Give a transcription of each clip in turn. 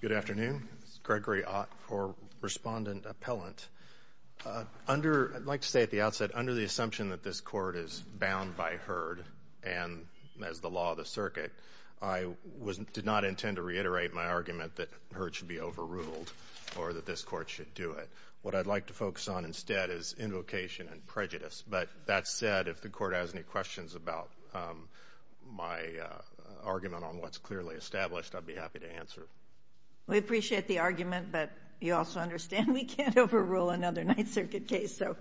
Good afternoon. This is Gregory Ott for Respondent Appellant. I'd like to say at the outset, under the assumption that this Court is bound by H.E.R.D. and as the law of the circuit, I did not intend to reiterate my argument that H.E.R.D. should be overruled or that this Court should do it. What I'd like to focus on instead is invocation and prejudice. But that said, if the Court has any questions about my argument on what's clearly established, I'd be happy to answer. We appreciate the argument, but you also understand we can't overrule another Ninth Circuit case. So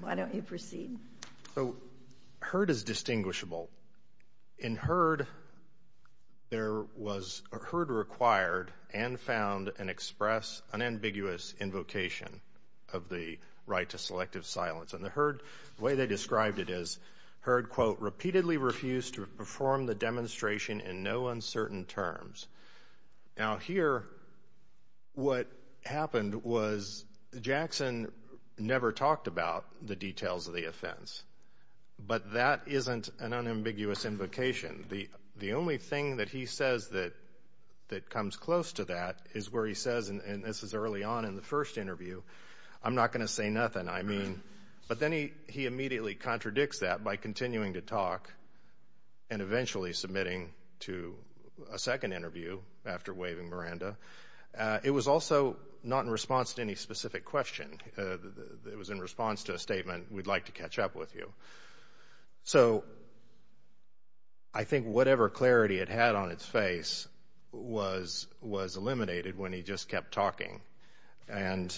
why don't you proceed? I do. So H.E.R.D. is distinguishable. In H.E.R.D., H.E.R.D. required and found and expressed an ambiguous invocation of the right to selective silence. And the H.E.R.D., the way they described it is, H.E.R.D. quote, repeatedly refused to perform the demonstration in no uncertain terms. Now here, what happened was Jackson never talked about the details of the offense, but that isn't an unambiguous invocation. The only thing that he says that comes close to that is where he says, and this is early on in the first interview, I'm not going to say nothing. I mean, but then he immediately contradicts that by continuing to talk and eventually submitting to a second interview after waving Miranda. It was also not in response to any specific question. It was in response to a statement, we'd like to catch up with you. So I think whatever clarity it had on its face was eliminated when he just kept talking and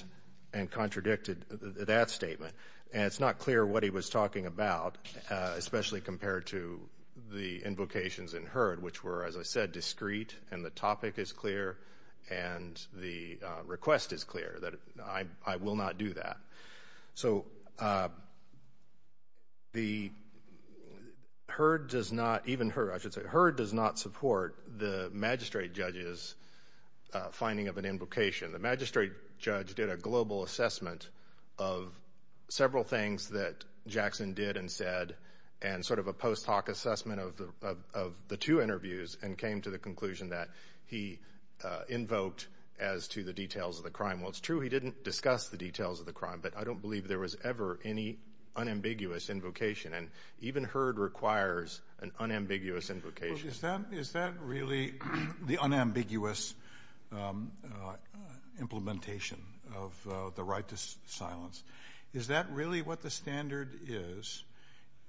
contradicted that statement. And it's not clear what he was talking about, especially compared to the invocations in H.E.R.D., which were, as I said, discrete and the topic is clear and the request is clear that I will not do that. So the H.E.R.D. does not, even H.E.R.D., I should say, H.E.R.D. does not support the magistrate judge's finding of an invocation. The magistrate judge did a global assessment of several things that Jackson did and said and sort of a post hoc assessment of the two interviews and came to the conclusion that he invoked as to the details of the crime. Well, it's true he didn't discuss the details of the crime, but I don't believe there was ever any unambiguous invocation. And even H.E.R.D. requires an unambiguous invocation. Is that really the unambiguous implementation of the right to silence? Is that really what the standard is?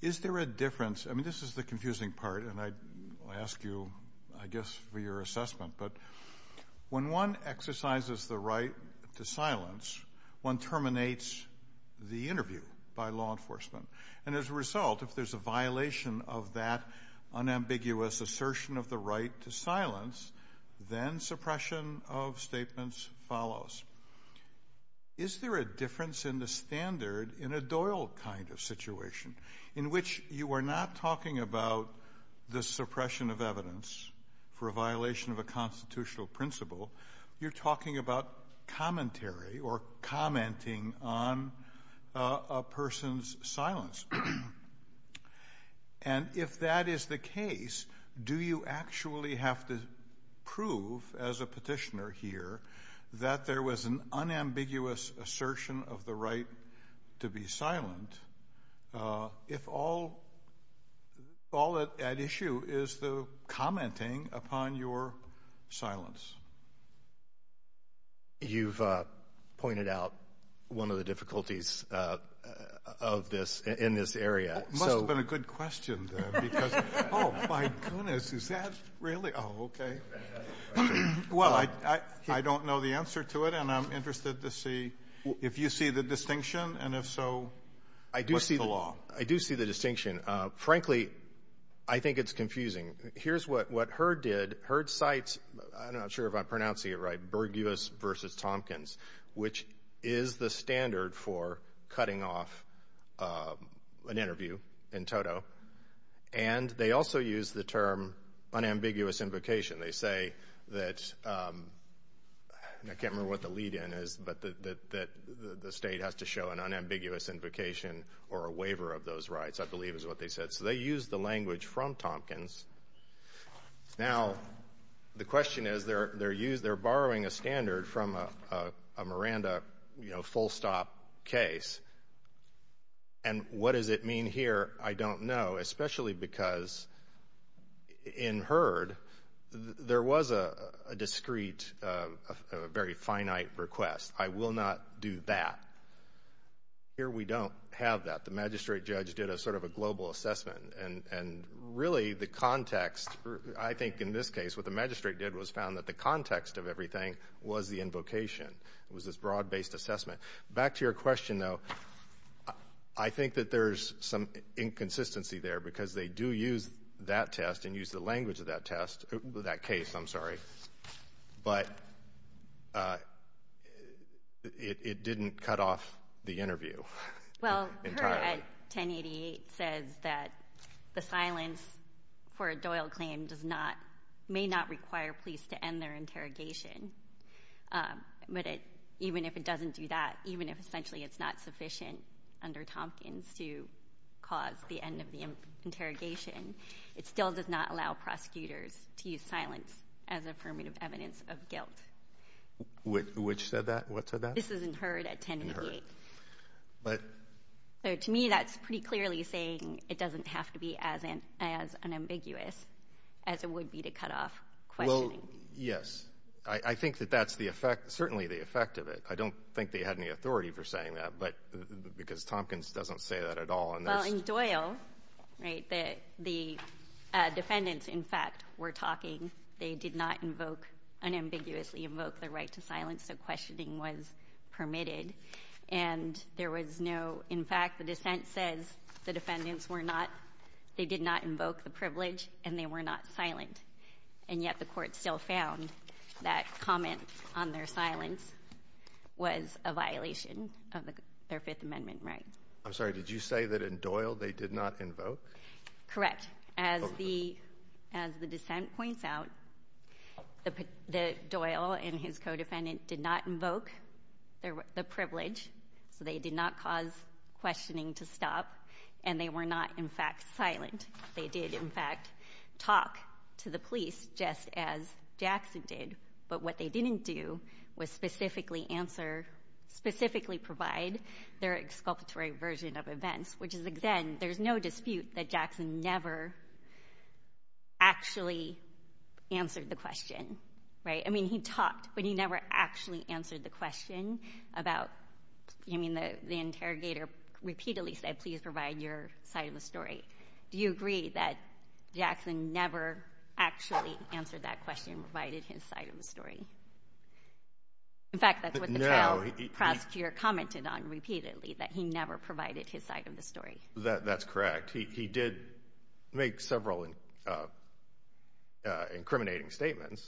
Is there a difference? I mean, this is the confusing part, and I ask you, I guess, for your assessment. But when one exercises the right to silence, one terminates the interview by law enforcement. And as a result, if there's a violation of that unambiguous assertion of the right to silence, then suppression of statements follows. Is there a difference in the standard in a Doyle kind of situation, in which you are not talking about the suppression of evidence for a violation of a constitutional principle. You're talking about commentary or commenting on a person's silence. And if that is the case, do you actually have to prove, as a petitioner here, that there was an unambiguous assertion of the right to be silent, if all at issue is the commenting upon your silence? You've pointed out one of the difficulties in this area. It must have been a good question, then, because, oh, my goodness, is that really? Oh, okay. Well, I don't know the answer to it, and I'm interested to see if you see the distinction, and if so, what's the law? I do see the distinction. Frankly, I think it's confusing. Here's what HERD did. HERD cites, I'm not sure if I'm pronouncing it right, Burgess v. Tompkins, which is the standard for cutting off an interview in toto. And they also use the term unambiguous invocation. They say that, and I can't remember what the lead-in is, but that the state has to show an unambiguous invocation or a waiver of those rights, I believe is what they said. So they use the language from Tompkins. Now, the question is, they're borrowing a standard from a Miranda, you know, full-stop case. And what does it mean here? I don't know, especially because in HERD, there was a discreet, very finite request. I will not do that. Here we don't have that. The magistrate judge did a sort of a global assessment, and really the context, I think in this case, what the magistrate did was found that the context of everything was the invocation. It was this broad-based assessment. Back to your question, though, I think that there's some inconsistency there because they do use that test and use the language of that test, that case, I'm sorry. But it didn't cut off the interview entirely. Well, HERD at 1088 says that the silence for a Doyle claim may not require police to end their interrogation. But even if it doesn't do that, even if essentially it's not sufficient under Tompkins to cause the end of the interrogation, it still does not allow prosecutors to use silence as affirmative evidence of guilt. Which said that? What said that? This is in HERD at 1088. To me, that's pretty clearly saying it doesn't have to be as unambiguous as it would be to cut off questioning. Yes. I think that that's the effect, certainly the effect of it. I don't think they had any authority for saying that because Tompkins doesn't say that at all. Well, in Doyle, the defendants, in fact, were talking. They did not invoke, unambiguously invoke their right to silence, so questioning was permitted. And there was no, in fact, the dissent says the defendants were not, they did not invoke the privilege and they were not silent. And yet the court still found that comment on their silence was a violation of their Fifth Amendment right. I'm sorry, did you say that in Doyle they did not invoke? Correct. As the dissent points out, the Doyle and his co-defendant did not invoke the privilege, so they did not cause questioning to stop, and they were not, in fact, silent. They did, in fact, talk to the police just as Jackson did, but what they didn't do was specifically provide their exculpatory version of events, which is then there's no dispute that Jackson never actually answered the question, right. I mean, he talked, but he never actually answered the question about, I mean, the interrogator repeatedly said, please provide your side of the story. Right. Do you agree that Jackson never actually answered that question, provided his side of the story? In fact, that's what the trial prosecutor commented on repeatedly, that he never provided his side of the story. That's correct. He did make several incriminating statements.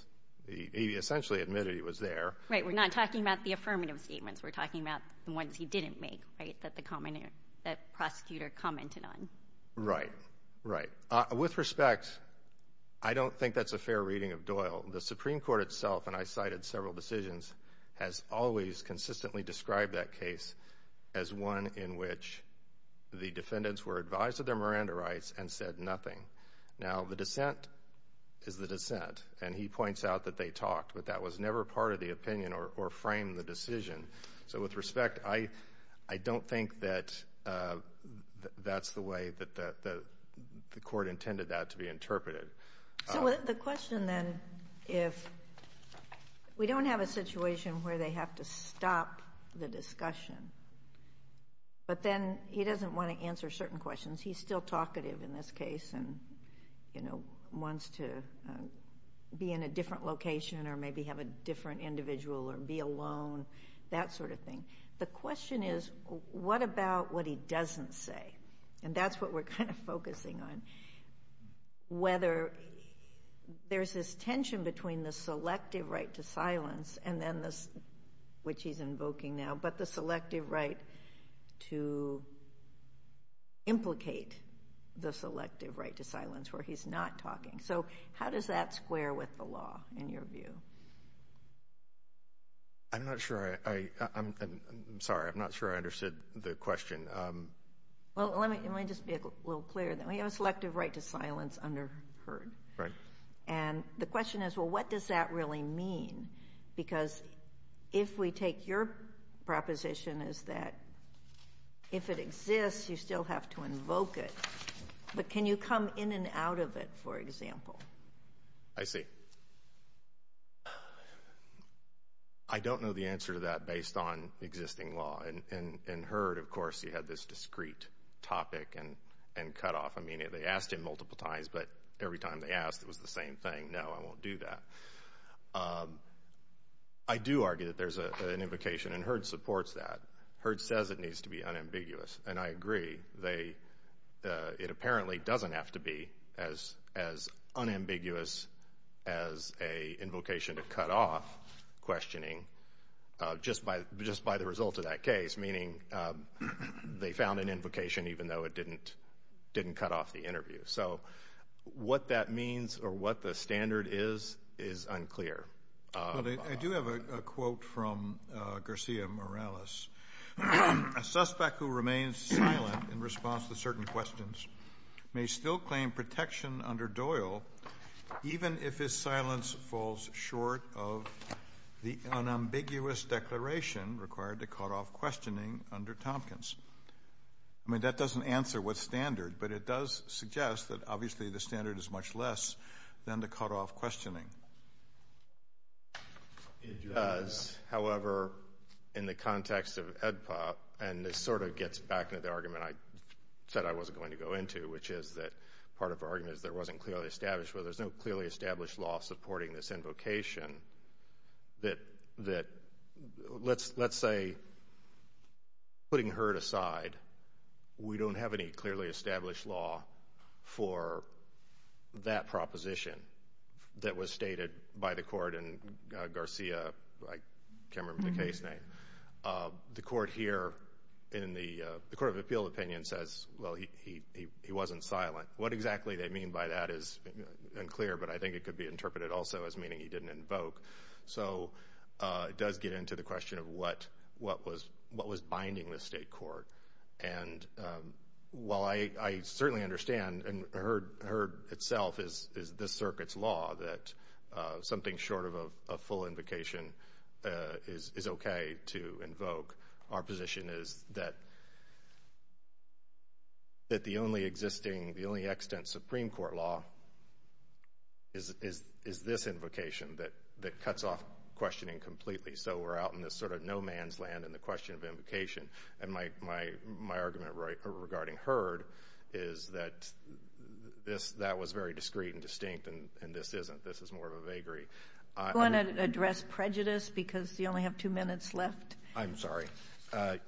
He essentially admitted he was there. Right. We're not talking about the affirmative statements. We're talking about the ones he didn't make, right, that the prosecutor commented on. Right. Right. With respect, I don't think that's a fair reading of Doyle. The Supreme Court itself, and I cited several decisions, has always consistently described that case as one in which the defendants were advised of their Miranda rights and said nothing. Now, the dissent is the dissent, and he points out that they talked, but that was never part of the opinion or framed the decision. So with respect, I don't think that that's the way that the court intended that to be interpreted. So the question then, if we don't have a situation where they have to stop the discussion, but then he doesn't want to answer certain questions, he's still talkative in this case and wants to be in a different location or maybe have a different individual or be alone, that sort of thing, the question is what about what he doesn't say? And that's what we're kind of focusing on, whether there's this tension between the selective right to silence, which he's invoking now, but the selective right to implicate the selective right to silence where he's not talking. So how does that square with the law in your view? I'm not sure I—I'm sorry, I'm not sure I understood the question. Well, let me just be a little clearer. We have a selective right to silence under H.E.A.R.D. Right. And the question is, well, what does that really mean? Because if we take your proposition is that if it exists, you still have to invoke it, but can you come in and out of it, for example? I see. I don't know the answer to that based on existing law. In H.E.A.R.D., of course, you had this discrete topic and cutoff. I mean, they asked him multiple times, but every time they asked, it was the same thing. No, I won't do that. I do argue that there's an invocation, and H.E.A.R.D. supports that. H.E.A.R.D. says it needs to be unambiguous, and I agree. It apparently doesn't have to be as unambiguous as an invocation to cutoff questioning just by the result of that case, meaning they found an invocation even though it didn't cut off the interview. So what that means or what the standard is is unclear. I do have a quote from Garcia Morales. A suspect who remains silent in response to certain questions may still claim protection under Doyle even if his silence falls short of the unambiguous declaration required to cutoff questioning under Tompkins. I mean, that doesn't answer what standard, but it does suggest that obviously the standard is much less than the cutoff questioning. It does. However, in the context of EDPA, and this sort of gets back into the argument I said I wasn't going to go into, which is that part of the argument is there wasn't clearly established, well, there's no clearly established law supporting this invocation. Let's say, putting H.E.A.R.D. aside, we don't have any clearly established law for that proposition that was stated by the court, and Garcia, I can't remember the case name. The court here in the Court of Appeal opinion says, well, he wasn't silent. What exactly they mean by that is unclear, but I think it could be interpreted also as meaning he didn't invoke. So it does get into the question of what was binding the state court. And while I certainly understand, and H.E.A.R.D. itself is this circuit's law, that something short of a full invocation is okay to invoke, our position is that the only existing, the only extant Supreme Court law is this invocation that cuts off questioning completely. So we're out in this sort of no man's land in the question of invocation. And my argument regarding H.E.A.R.D. is that that was very discreet and distinct, and this isn't. This is more of a vagary. Do you want to address prejudice because you only have two minutes left? I'm sorry.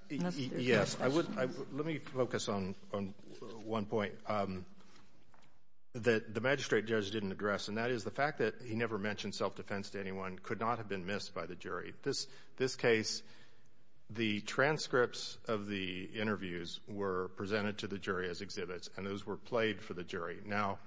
Yes. Let me focus on one point that the magistrate judge didn't address, and that is the fact that he never mentioned self-defense to anyone could not have been missed by the jury. This case, the transcripts of the interviews were presented to the jury as exhibits, and those were played for the jury. Now,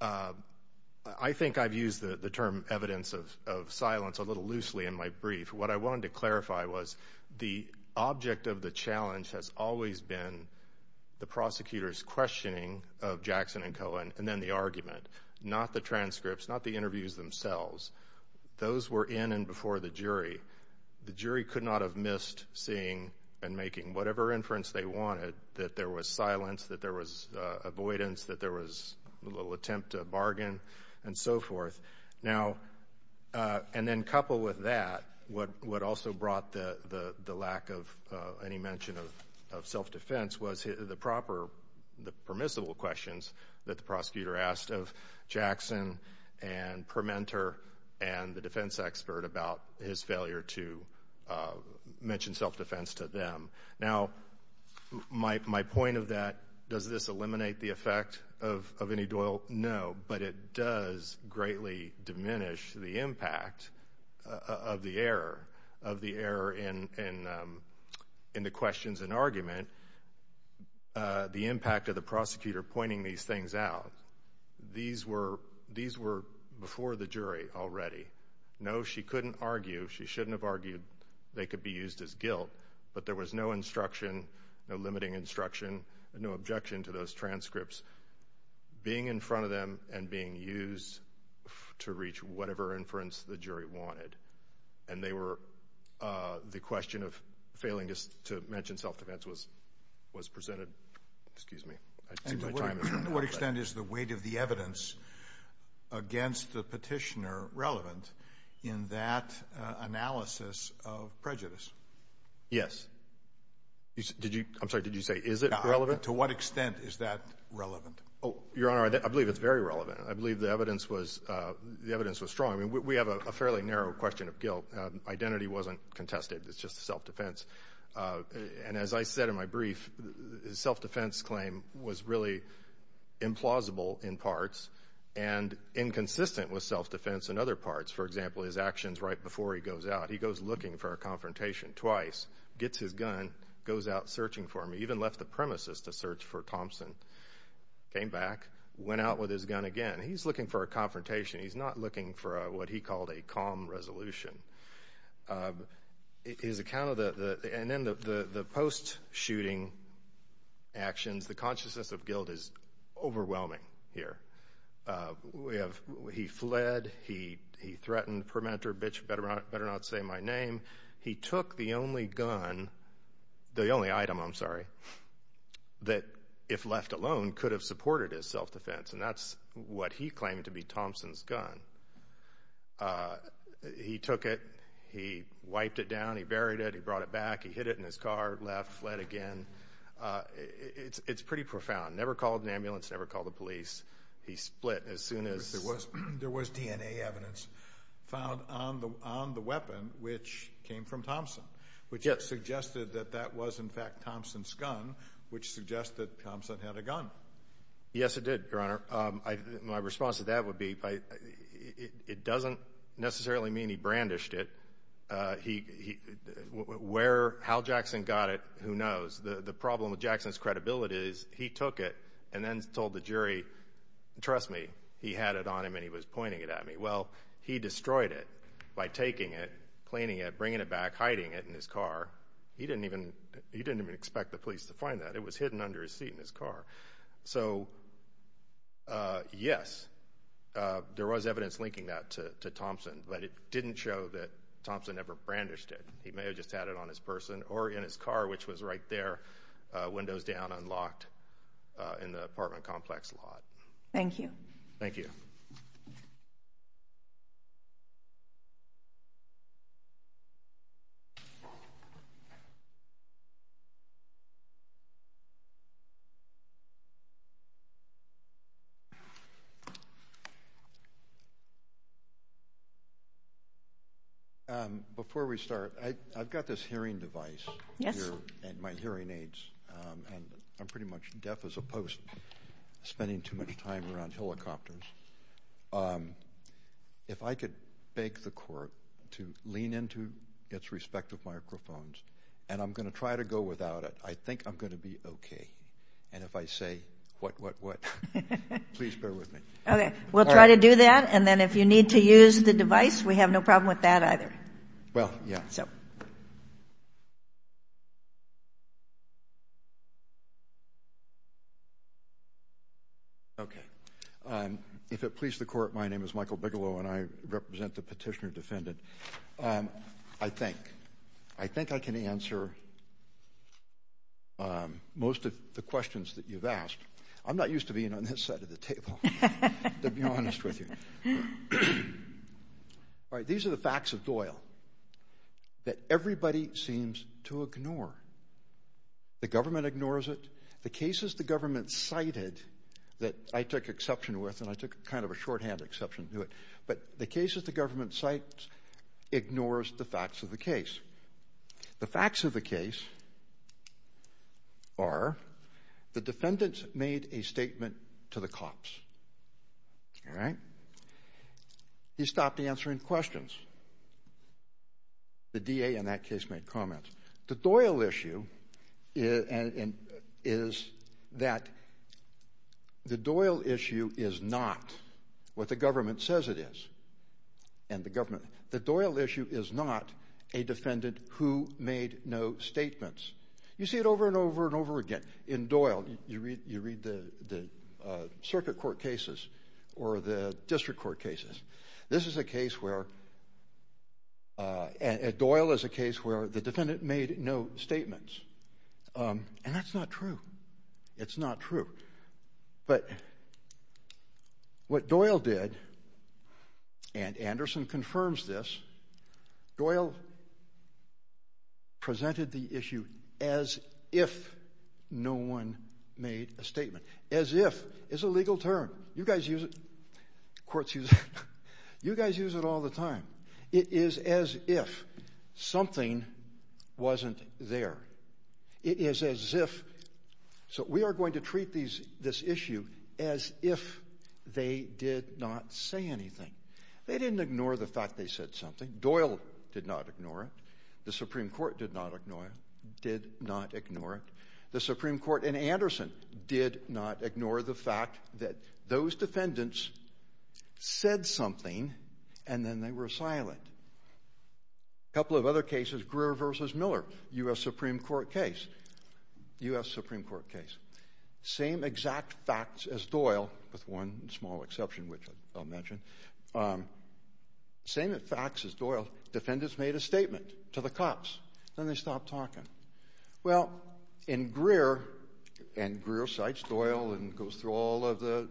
I think I've used the term evidence of silence a little loosely in my brief. What I wanted to clarify was the object of the challenge has always been the prosecutor's questioning of Jackson and Cohen, and then the argument, not the transcripts, not the interviews themselves. Those were in and before the jury. The jury could not have missed seeing and making whatever inference they wanted, that there was silence, that there was avoidance, that there was a little attempt to bargain, and so forth. Now, and then coupled with that, what also brought the lack of any mention of self-defense was the proper, the permissible questions that the prosecutor asked of Jackson and Permenter and the defense expert about his failure to mention self-defense to them. Now, my point of that, does this eliminate the effect of any dole? No, but it does greatly diminish the impact of the error, of the error in the questions and argument. The impact of the prosecutor pointing these things out, these were before the jury already. No, she couldn't argue, she shouldn't have argued they could be used as guilt, but there was no instruction, no limiting instruction, no objection to those transcripts. Being in front of them and being used to reach whatever inference the jury wanted, and they were, the question of failing to mention self-defense was presented. Excuse me. To what extent is the weight of the evidence against the petitioner relevant in that analysis of prejudice? Yes. I'm sorry, did you say is it relevant? To what extent is that relevant? Your Honor, I believe it's very relevant. I believe the evidence was strong. I mean, we have a fairly narrow question of guilt. Identity wasn't contested, it's just self-defense. And as I said in my brief, self-defense claim was really implausible in parts and inconsistent with self-defense in other parts. For example, his actions right before he goes out, he goes looking for a confrontation twice, gets his gun, goes out searching for him. He even left the premises to search for Thompson, came back, went out with his gun again. He's looking for a confrontation. He's not looking for what he called a calm resolution. His account of the, and then the post-shooting actions, the consciousness of guilt is overwhelming here. We have, he fled, he threatened the permitter, bitch, better not say my name. He took the only gun, the only item, I'm sorry, that if left alone could have supported his self-defense, and that's what he claimed to be Thompson's gun. He took it. He wiped it down. He buried it. He brought it back. He hid it in his car, left, fled again. It's pretty profound. Never called an ambulance, never called the police. He split as soon as. There was DNA evidence found on the weapon, which came from Thompson, which suggested that that was in fact Thompson's gun, which suggested Thompson had a gun. Yes, it did, Your Honor. My response to that would be it doesn't necessarily mean he brandished it. Where, how Jackson got it, who knows. The problem with Jackson's credibility is he took it and then told the jury, trust me, he had it on him and he was pointing it at me. Well, he destroyed it by taking it, cleaning it, bringing it back, hiding it in his car. He didn't even expect the police to find that. It was hidden under his seat in his car. So, yes, there was evidence linking that to Thompson, but it didn't show that Thompson ever brandished it. He may have just had it on his person or in his car, which was right there, windows down, unlocked in the apartment complex lot. Thank you. Thank you. Before we start, I've got this hearing device here and my hearing aids, and I'm pretty much deaf as opposed to spending too much time around helicopters. If I could beg the Court to lean into its respective microphones, and I'm going to try to go without it. I think I'm going to be okay. And if I say, what, what, what, please bear with me. Okay. We'll try to do that. And then if you need to use the device, we have no problem with that either. Well, yeah. So. Okay. If it pleases the Court, my name is Michael Bigelow, and I represent the petitioner defendant. I think. I think I can answer most of the questions that you've asked. I'm not used to being on this side of the table, to be honest with you. All right. These are the facts of Doyle that everybody seems to ignore. The government ignores it. The cases the government cited that I took exception with, and I took kind of a shorthand exception to it, but the cases the government cites ignores the facts of the case. The facts of the case are the defendant made a statement to the cops. All right. He stopped answering questions. The DA in that case made comments. The Doyle issue is that the Doyle issue is not what the government says it is. The Doyle issue is not a defendant who made no statements. You see it over and over and over again. In Doyle, you read the circuit court cases or the district court cases. This is a case where Doyle is a case where the defendant made no statements, and that's not true. It's not true. But what Doyle did, and Anderson confirms this, Doyle presented the issue as if no one made a statement, as if. It's a legal term. You guys use it. Courts use it. You guys use it all the time. It is as if something wasn't there. It is as if. So we are going to treat this issue as if they did not say anything. They didn't ignore the fact they said something. Doyle did not ignore it. The Supreme Court did not ignore it. The Supreme Court and Anderson did not ignore the fact that those defendants said something and then they were silent. A couple of other cases, Greer v. Miller, U.S. Supreme Court case. U.S. Supreme Court case. Same exact facts as Doyle, with one small exception which I'll mention. Same facts as Doyle. Defendants made a statement to the cops. Then they stopped talking. Well, in Greer, and Greer cites Doyle and goes through all of the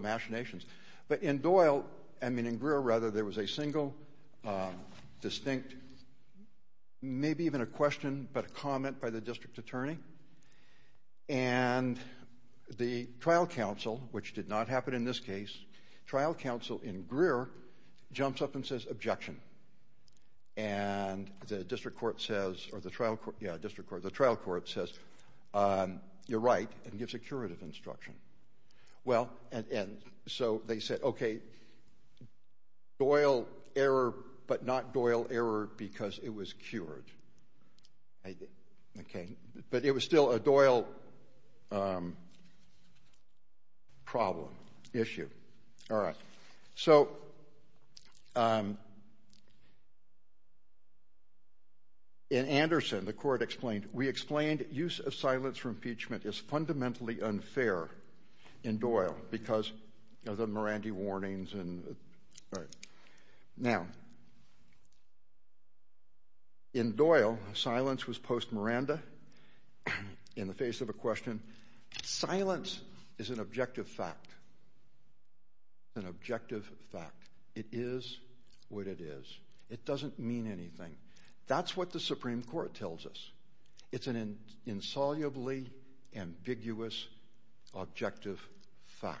machinations, but in Doyle, I mean in Greer rather, there was a single distinct maybe even a question but a comment by the district attorney, and the trial counsel, which did not happen in this case, trial counsel in Greer jumps up and says, objection. And the district court says, you're right, and gives a curative instruction. Well, and so they said, okay, Doyle error but not Doyle error because it was cured. Okay, but it was still a Doyle problem, issue. All right, so in Anderson, the court explained, we explained use of silence for impeachment is fundamentally unfair in Doyle because of the Mirandi warnings. Now, in Doyle, silence was post-Miranda in the face of a question. Silence is an objective fact, an objective fact. It is what it is. It doesn't mean anything. That's what the Supreme Court tells us. It's an insolubly ambiguous objective fact.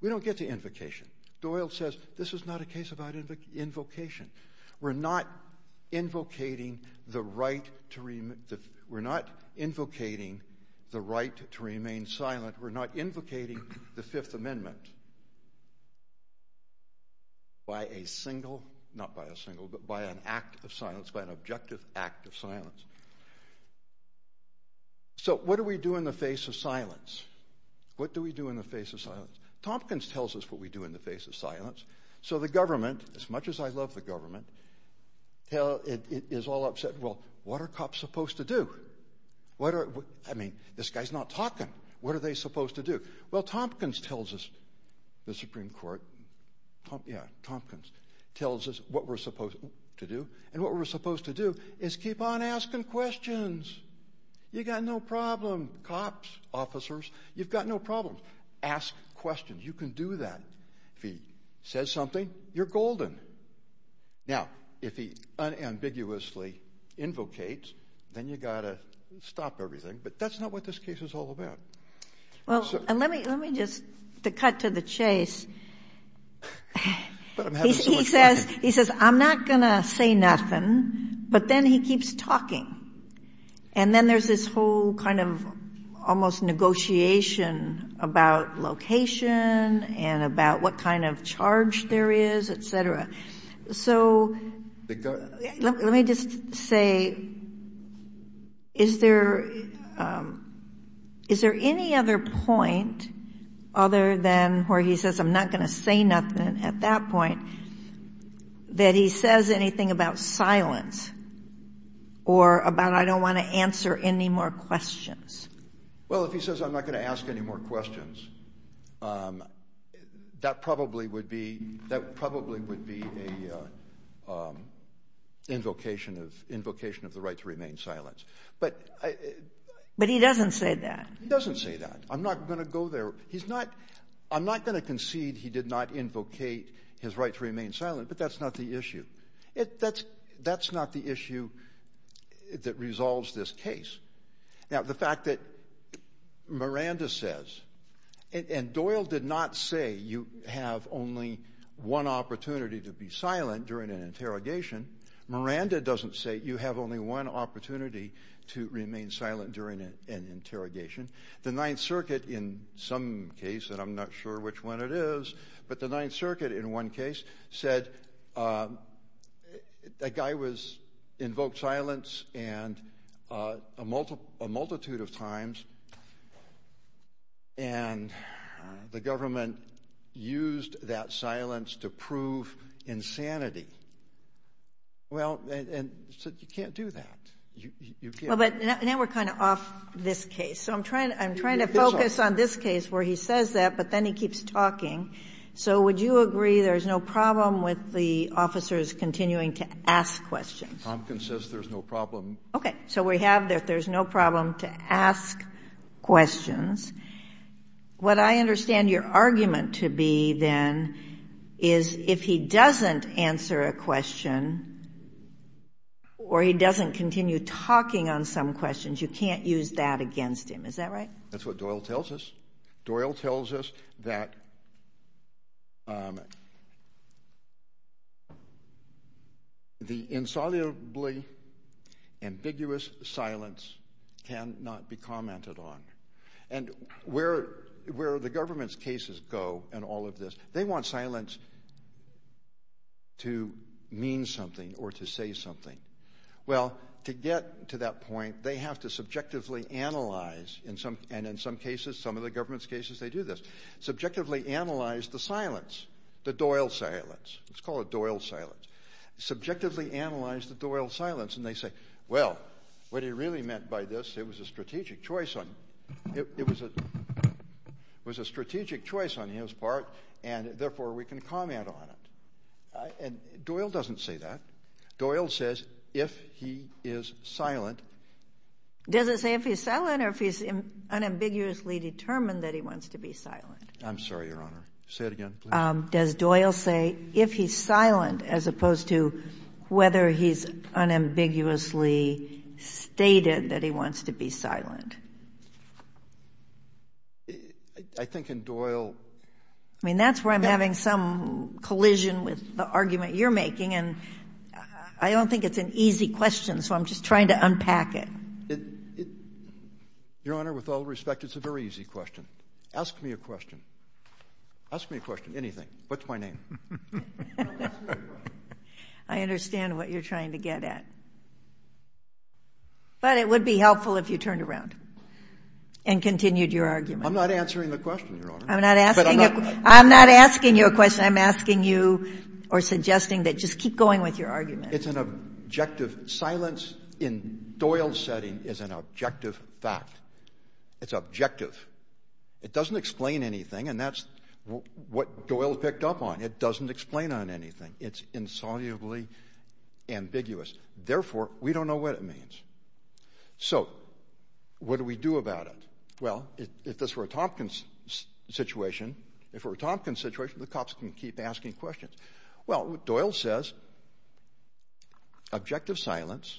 We don't get to invocation. Doyle says, this is not a case about invocation. We're not invocating the right to remain silent. We're not invocating the Fifth Amendment by a single, not by a single, but by an act of silence, by an objective act of silence. So what do we do in the face of silence? What do we do in the face of silence? Tompkins tells us what we do in the face of silence. So the government, as much as I love the government, is all upset. Well, what are cops supposed to do? I mean, this guy's not talking. What are they supposed to do? Well, Tompkins tells us, the Supreme Court, yeah, Tompkins tells us what we're supposed to do, and what we're supposed to do is keep on asking questions. You got no problem. Cops, officers, you've got no problem. Ask questions. You can do that. If he says something, you're golden. Now, if he unambiguously invocates, then you've got to stop everything, but that's not what this case is all about. Well, let me just, to cut to the chase, he says, I'm not going to say nothing, but then he keeps talking. And then there's this whole kind of almost negotiation about location and about what kind of charge there is, et cetera. So let me just say, is there any other point other than where he says, I'm not going to say nothing at that point, that he says anything about silence or about I don't want to answer any more questions? Well, if he says I'm not going to ask any more questions, that probably would be an invocation of the right to remain silent. But he doesn't say that. He doesn't say that. I'm not going to go there. But that's not the issue. That's not the issue that resolves this case. Now, the fact that Miranda says, and Doyle did not say you have only one opportunity to be silent during an interrogation. Miranda doesn't say you have only one opportunity to remain silent during an interrogation. The Ninth Circuit, in some case, and I'm not sure which one it is, but the Ninth Circuit, in one case, said that guy invoked silence a multitude of times, and the government used that silence to prove insanity. Well, you can't do that. But now we're kind of off this case. So I'm trying to focus on this case where he says that, but then he keeps talking. So would you agree there's no problem with the officers continuing to ask questions? Tompkins says there's no problem. Okay. So we have that there's no problem to ask questions. What I understand your argument to be, then, is if he doesn't answer a question or he doesn't continue talking on some questions, you can't use that against him. Is that right? That's what Doyle tells us. Doyle tells us that the insolubly ambiguous silence cannot be commented on. And where the government's cases go in all of this, they want silence to mean something or to say something. Well, to get to that point, they have to subjectively analyze, and in some cases, some of the government's cases, they do this, subjectively analyze the silence, the Doyle silence. Let's call it Doyle silence. Subjectively analyze the Doyle silence. And they say, well, what he really meant by this, it was a strategic choice on his part, and therefore we can comment on it. And Doyle doesn't say that. Doyle says if he is silent. Does it say if he's silent or if he's unambiguously determined that he wants to be silent? I'm sorry, Your Honor. Say it again, please. Does Doyle say if he's silent as opposed to whether he's unambiguously stated that he wants to be silent? I think in Doyle — I mean, that's where I'm having some collision with the argument you're making, and I don't think it's an easy question, so I'm just trying to unpack it. Your Honor, with all respect, it's a very easy question. Ask me a question. Ask me a question, anything. What's my name? I understand what you're trying to get at. But it would be helpful if you turned around and continued your argument. I'm not answering the question, Your Honor. I'm not asking you a question. I'm asking you or suggesting that just keep going with your argument. It's an objective silence in Doyle's setting is an objective fact. It's objective. It doesn't explain anything, and that's what Doyle picked up on. It doesn't explain anything. It's insolubly ambiguous. Therefore, we don't know what it means. So what do we do about it? Well, if this were a Tompkins situation, the cops can keep asking questions. Well, Doyle says objective silence.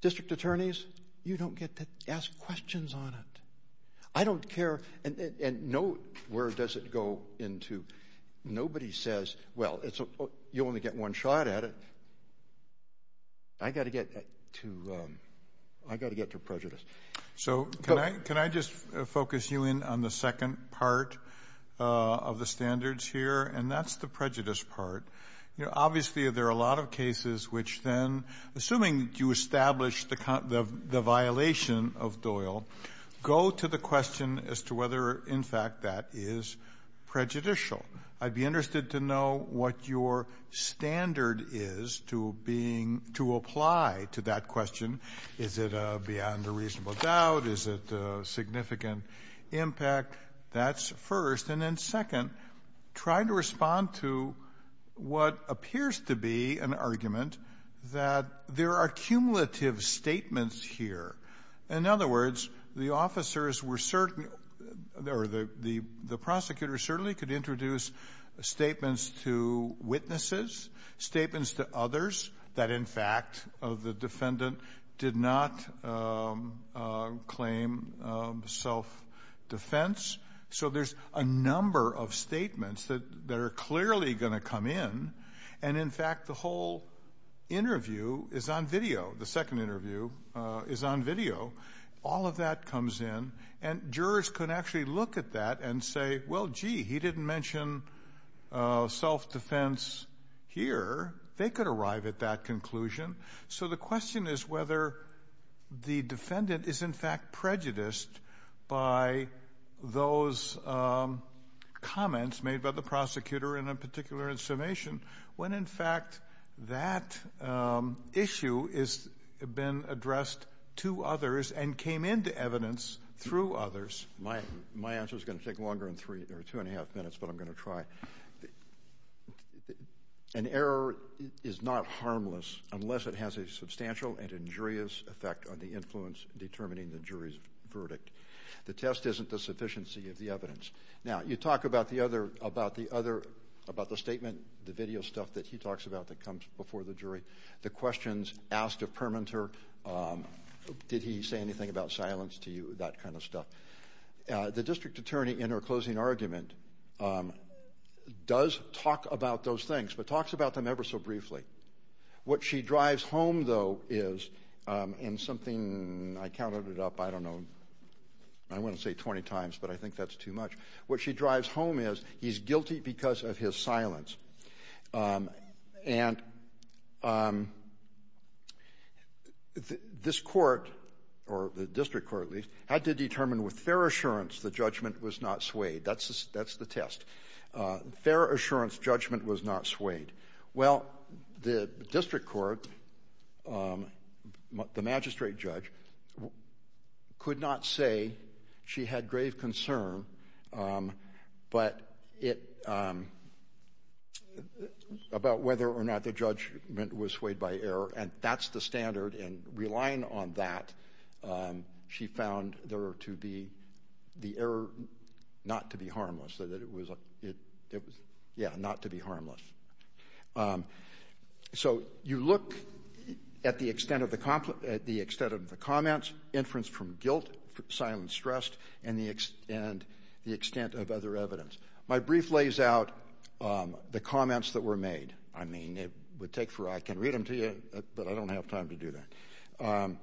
District attorneys, you don't get to ask questions on it. I don't care. And where does it go into? Nobody says, well, you only get one shot at it. I got to get to prejudice. So can I just focus you in on the second part of the standards here? And that's the prejudice part. Obviously, there are a lot of cases which then, assuming you establish the violation of Doyle, go to the question as to whether, in fact, that is prejudicial. I'd be interested to know what your standard is to apply to that question. Is it beyond a reasonable doubt? Is it significant impact? That's first. And then, second, try to respond to what appears to be an argument that there are cumulative statements here. In other words, the officers were certain or the prosecutor certainly could introduce statements to witnesses, statements to others that, in fact, the defendant did not claim self-defense. So there's a number of statements that are clearly going to come in. And, in fact, the whole interview is on video. The second interview is on video. All of that comes in. And jurors can actually look at that and say, well, gee, he didn't mention self-defense here. They could arrive at that conclusion. So the question is whether the defendant is, in fact, prejudiced by those comments made by the prosecutor, and in particular in summation, when, in fact, that issue has been addressed to others and came into evidence through others. My answer is going to take longer than two and a half minutes, but I'm going to try. An error is not harmless unless it has a substantial and injurious effect on the influence determining the jury's verdict. The test isn't the sufficiency of the evidence. Now, you talk about the statement, the video stuff that he talks about that comes before the jury, the questions asked of Permenter, the district attorney in her closing argument does talk about those things, but talks about them ever so briefly. What she drives home, though, is, and something I counted it up, I don't know, I wouldn't say 20 times, but I think that's too much. What she drives home is he's guilty because of his silence. And this court, or the district court at least, had to determine with fair assurance the judgment was not swayed. That's the test. Fair assurance judgment was not swayed. Well, the district court, the magistrate judge, could not say she had grave concern about whether or not the judgment was swayed by error, and that's the standard, and relying on that, she found the error not to be harmless. Yeah, not to be harmless. So you look at the extent of the comments, inference from guilt, silence stressed, and the extent of other evidence. My brief lays out the comments that were made. I mean, it would take for I can read them to you, but I don't have time to do that.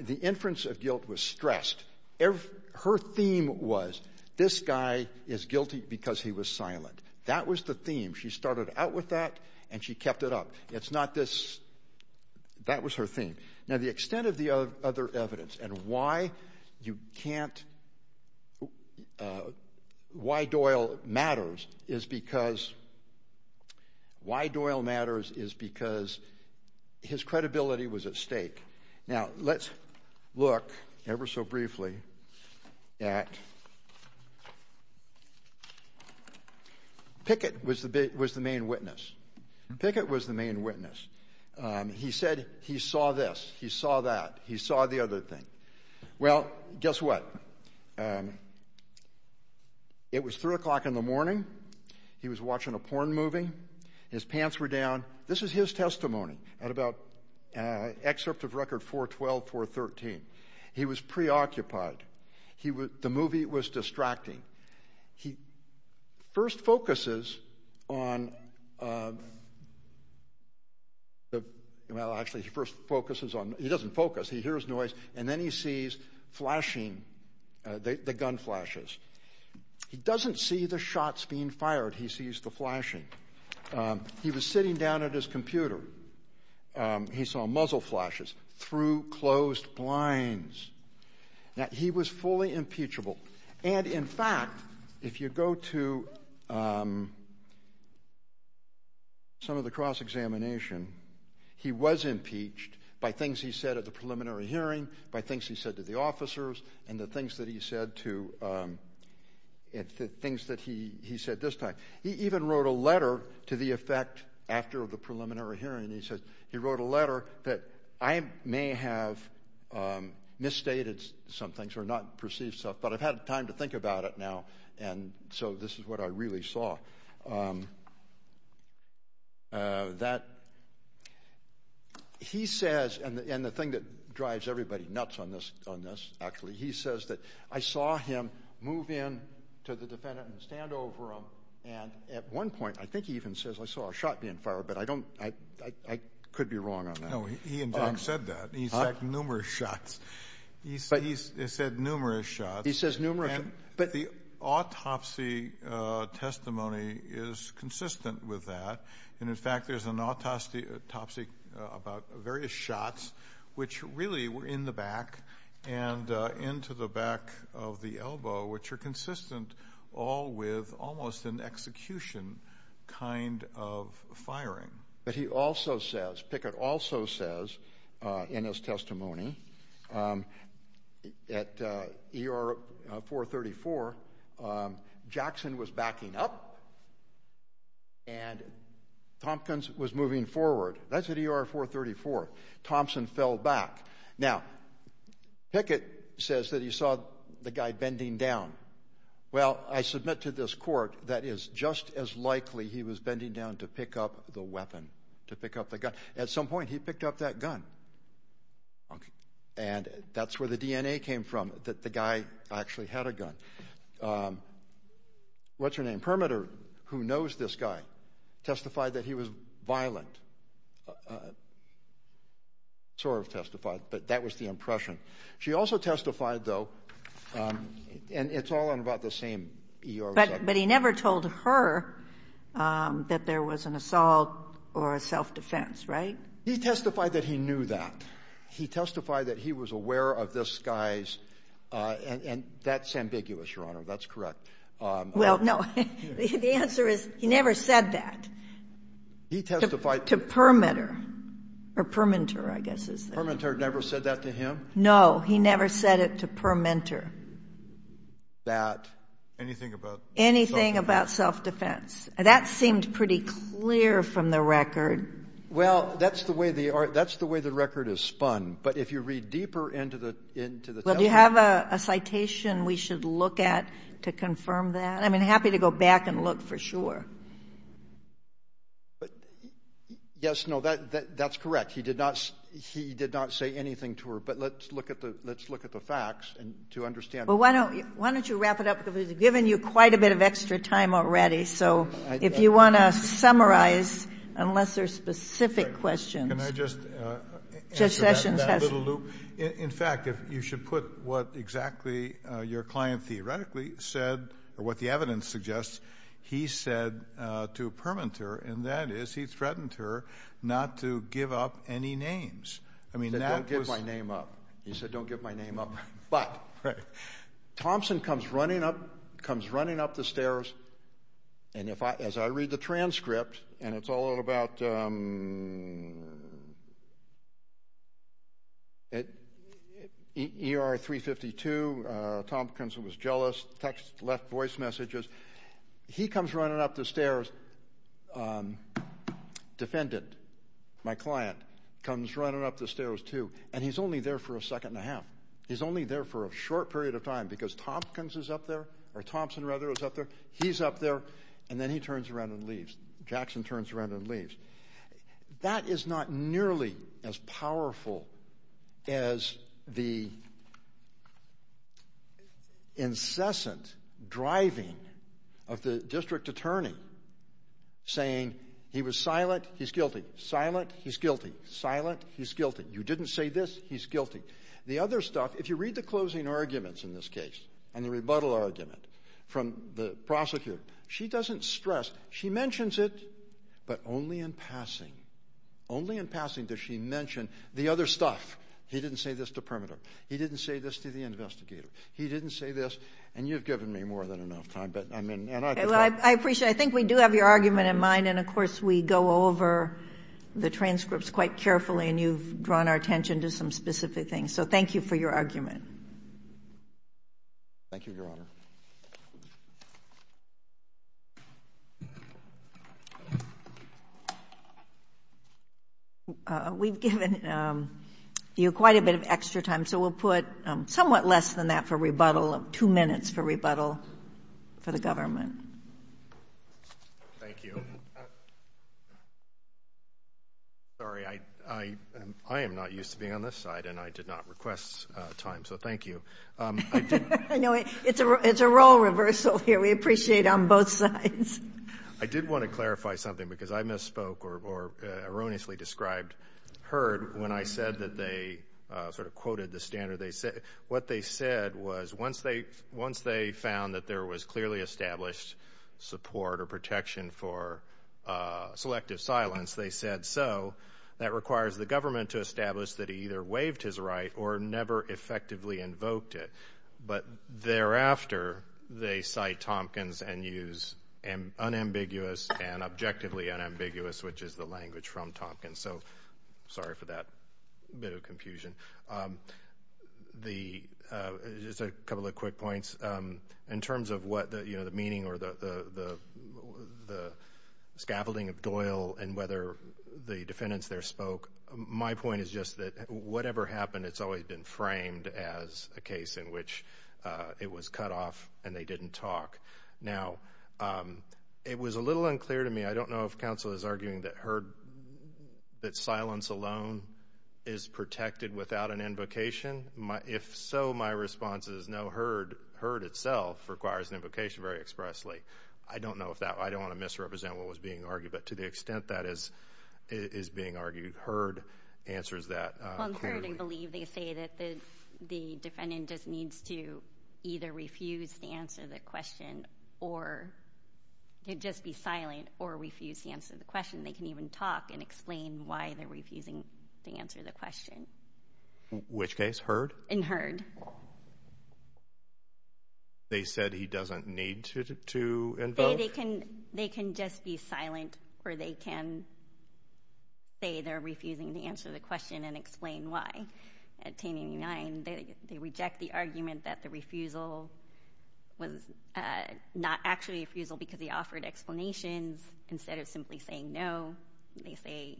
The inference of guilt was stressed. Her theme was this guy is guilty because he was silent. That was the theme. She started out with that, and she kept it up. It's not this. That was her theme. Now, the extent of the other evidence and why you can't why Doyle matters is because his credibility was at stake. Now, let's look ever so briefly at Pickett was the main witness. Pickett was the main witness. He said he saw this. He saw that. He saw the other thing. Well, guess what? It was 3 o'clock in the morning. He was watching a porn movie. His pants were down. This is his testimony at about excerpt of record 412, 413. He was preoccupied. The movie was distracting. He first focuses on, well, actually, he doesn't focus. He hears noise, and then he sees flashing, the gun flashes. He doesn't see the shots being fired. He sees the flashing. He was sitting down at his computer. He saw muzzle flashes through closed blinds. Now, he was fully impeachable. And, in fact, if you go to some of the cross-examination, he was impeached by things he said at the preliminary hearing, by things he said to the officers, and the things that he said this time. He even wrote a letter to the effect after the preliminary hearing. And he says he wrote a letter that I may have misstated some things or not perceived stuff, but I've had time to think about it now, and so this is what I really saw. That he says, and the thing that drives everybody nuts on this, actually, he says that I saw him move in to the defendant and stand over him, and at one point, I think he even says, I saw a shot being fired, but I could be wrong on that. No, he, in fact, said that. He said numerous shots. He said numerous shots. He says numerous shots. But the autopsy testimony is consistent with that. And, in fact, there's an autopsy about various shots which really were in the back and into the back of the elbow, which are consistent all with almost an execution kind of firing. But he also says, Pickett also says in his testimony, at ER 434, Jackson was backing up and Tompkins was moving forward. That's at ER 434. Thompson fell back. Now, Pickett says that he saw the guy bending down. Well, I submit to this court that it is just as likely he was bending down to pick up the weapon, to pick up the gun. At some point, he picked up that gun, and that's where the DNA came from, that the guy actually had a gun. What's your name? Permitter, who knows this guy, testified that he was violent. Sort of testified, but that was the impression. She also testified, though, and it's all in about the same ER section. But he never told her that there was an assault or a self-defense, right? He testified that he knew that. He testified that he was aware of this guy's, and that's ambiguous, Your Honor. That's correct. Well, no. The answer is he never said that. He testified. To Permitter. Or Perminter, I guess is the word. Perminter never said that to him? No, he never said it to Perminter. Anything about self-defense? Anything about self-defense. That seemed pretty clear from the record. Well, that's the way the record is spun. But if you read deeper into the testimony. Well, do you have a citation we should look at to confirm that? I'm happy to go back and look for sure. Yes, no, that's correct. He did not say anything to her. But let's look at the facts to understand. Well, why don't you wrap it up? Because we've given you quite a bit of extra time already. So if you want to summarize, unless there's specific questions. Can I just answer that little loop? In fact, you should put what exactly your client theoretically said, or what the evidence suggests, he said to Perminter, and that is he threatened her not to give up any names. He said, don't give my name up. He said, don't give my name up. But Thompson comes running up the stairs, and as I read the transcript, and it's all about ER 352, Tompkins was jealous, left voice messages. He comes running up the stairs. Defendant, my client, comes running up the stairs too, and he's only there for a second and a half. He's only there for a short period of time because Thompson is up there. He's up there, and then he turns around and leaves. Jackson turns around and leaves. That is not nearly as powerful as the incessant driving of the district attorney saying he was silent, he's guilty, silent, he's guilty, silent, he's guilty. You didn't say this, he's guilty. The other stuff, if you read the closing arguments in this case, and the rebuttal argument from the prosecutor, she doesn't stress. She mentions it, but only in passing. Only in passing does she mention the other stuff. He didn't say this to Permeter. He didn't say this to the investigator. He didn't say this, and you've given me more than enough time. I appreciate it. I think we do have your argument in mind, and, of course, we go over the transcripts quite carefully, and you've drawn our attention to some specific things. So thank you for your argument. Thank you, Your Honor. We've given you quite a bit of extra time, so we'll put somewhat less than that for rebuttal, two minutes for rebuttal for the government. Thank you. Sorry, I am not used to being on this side, and I did not request time, so thank you. It's a role reversal here. We appreciate it on both sides. I did want to clarify something, because I misspoke or erroneously described Herd when I said that they sort of quoted the standard. What they said was once they found that there was clearly established support or protection for selective silence, they said so. That requires the government to establish that he either waived his right or never effectively invoked it. But thereafter, they cite Tompkins and use unambiguous and objectively unambiguous, which is the language from Tompkins. So sorry for that bit of confusion. Just a couple of quick points. In terms of what the meaning or the scaffolding of Doyle and whether the defendants there spoke, my point is just that whatever happened, it's always been framed as a case in which it was cut off and they didn't talk. Now, it was a little unclear to me. I don't know if counsel is arguing that Herd, that silence alone is protected without an invocation. If so, my response is no. Herd itself requires an invocation very expressly. I don't know if that. I don't want to misrepresent what was being argued. But to the extent that is being argued, Herd answers that. Well, in Herd, I believe they say that the defendant just needs to either refuse to answer the question or just be silent or refuse to answer the question. They can even talk and explain why they're refusing to answer the question. Which case, Herd? In Herd. They said he doesn't need to invoke? They can just be silent or they can say they're refusing to answer the question and explain why. At 1089, they reject the argument that the refusal was not actually a refusal because he offered explanations instead of simply saying no. They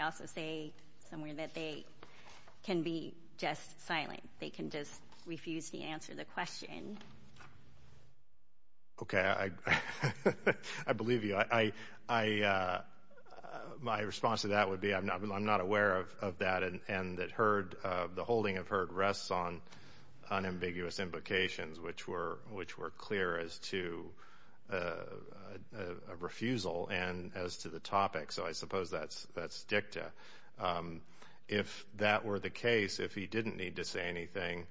also say somewhere that they can be just silent. They can just refuse to answer the question. Okay. I believe you. My response to that would be I'm not aware of that and that the holding of Herd rests on unambiguous invocations, which were clear as to a refusal and as to the topic. So I suppose that's dicta. If that were the case, if he didn't need to say anything,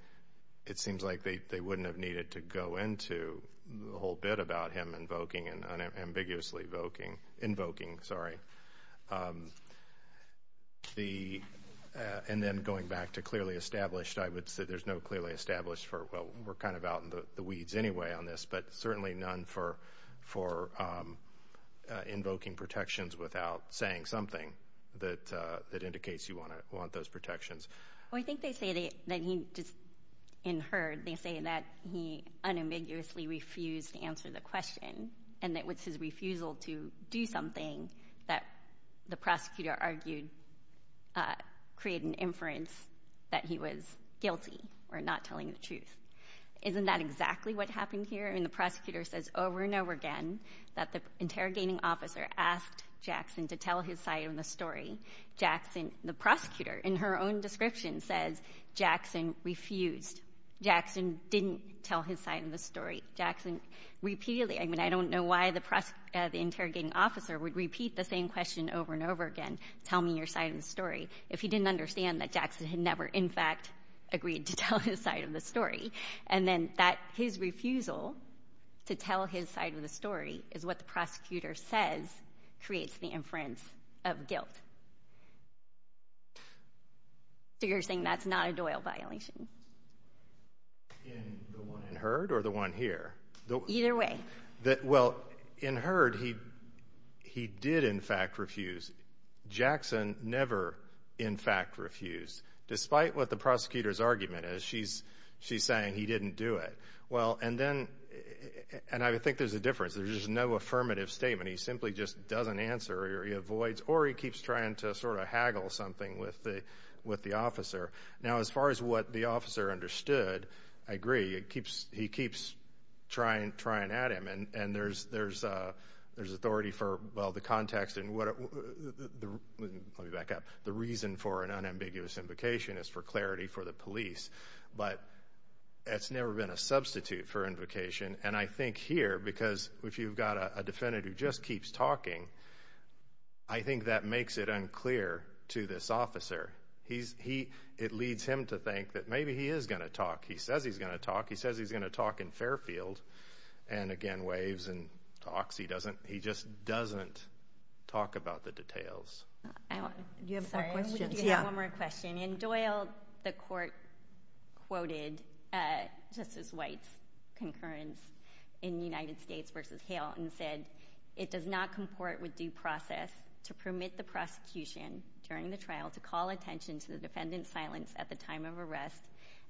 it seems like they wouldn't have needed to go into the whole bit about him invoking and unambiguously invoking. And then going back to clearly established, I would say there's no clearly established for, well, we're kind of out in the weeds anyway on this, but certainly none for invoking protections without saying something that indicates you want those protections. Well, I think they say that he just, in Herd, they say that he unambiguously refused to answer the question and that it was his refusal to do something that the prosecutor argued would create an inference that he was guilty or not telling the truth. Isn't that exactly what happened here? I mean, the prosecutor says over and over again that the interrogating officer asked Jackson to tell his side of the story. The prosecutor, in her own description, says Jackson refused. Jackson didn't tell his side of the story. Jackson repeatedly, I mean, I don't know why the interrogating officer would repeat the same question over and over again, tell me your side of the story, if he didn't understand that Jackson had never, in fact, agreed to tell his side of the story. And then his refusal to tell his side of the story is what the prosecutor says creates the inference of guilt. So you're saying that's not a Doyle violation? In the one in Herd or the one here? Either way. Well, in Herd, he did, in fact, refuse. Jackson never, in fact, refused, despite what the prosecutor's argument is. She's saying he didn't do it. And I think there's a difference. There's just no affirmative statement. He simply just doesn't answer or he avoids or he keeps trying to sort of haggle something with the officer. Now, as far as what the officer understood, I agree. He keeps trying at him. And there's authority for, well, the context. Let me back up. The reason for an unambiguous invocation is for clarity for the police. But it's never been a substitute for invocation. And I think here, because if you've got a defendant who just keeps talking, I think that makes it unclear to this officer. It leads him to think that maybe he is going to talk. He says he's going to talk. He says he's going to talk in Fairfield. And, again, waves and talks. He just doesn't talk about the details. Do you have more questions? I have one more question. In Doyle, the court quoted Justice White's concurrence in United States v. Hale and said, it does not comport with due process to permit the prosecution during the trial to call attention to the defendant's silence at the time of arrest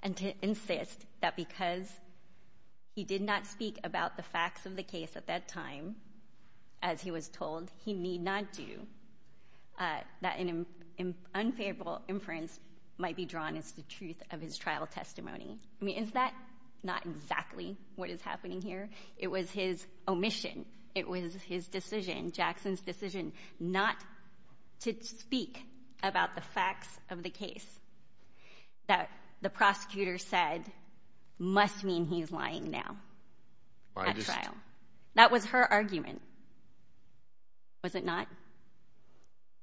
and to insist that because he did not speak about the facts of the case at that time, as he was told, he need not do, that an unfavorable inference might be drawn as to the truth of his trial testimony. I mean, is that not exactly what is happening here? It was his omission. It was his decision, Jackson's decision, not to speak about the facts of the case, that the prosecutor said must mean he's lying now at trial. That was her argument. Was it not?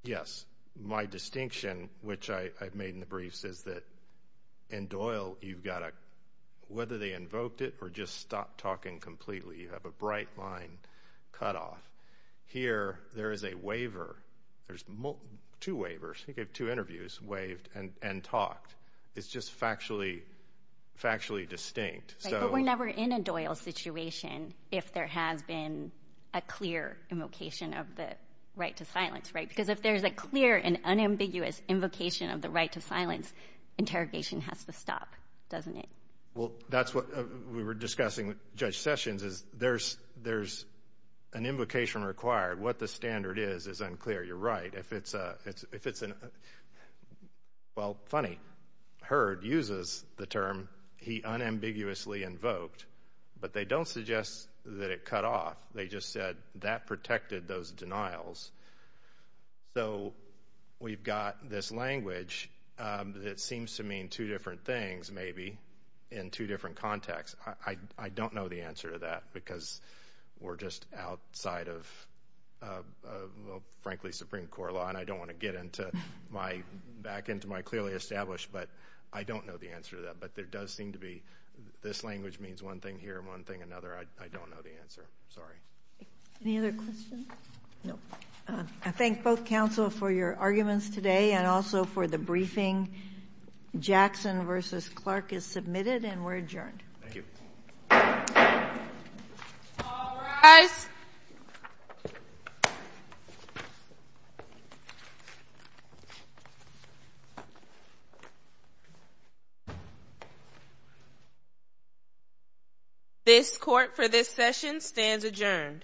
Yes. My distinction, which I've made in the briefs, is that in Doyle, you've got to, whether they invoked it or just stopped talking completely, you have a bright line cut off. Here, there is a waiver. There's two waivers. You get two interviews waived and talked. It's just factually distinct. But we're never in a Doyle situation if there has been a clear invocation of the right to silence, right? Because if there's a clear and unambiguous invocation of the right to silence, interrogation has to stop, doesn't it? Well, that's what we were discussing with Judge Sessions is there's an invocation required. What the standard is is unclear. You're right. Well, funny, Hurd uses the term he unambiguously invoked, but they don't suggest that it cut off. They just said that protected those denials. So we've got this language that seems to mean two different things maybe in two different contexts. I don't know the answer to that because we're just outside of, frankly, Supreme Court law, and I don't want to get back into my clearly established, but I don't know the answer to that. But there does seem to be this language means one thing here and one thing another. I don't know the answer. Sorry. Any other questions? No. I thank both counsel for your arguments today and also for the briefing. Jackson v. Clark is submitted and we're adjourned. Thank you. All rise. This court for this session stands adjourned. Thank you.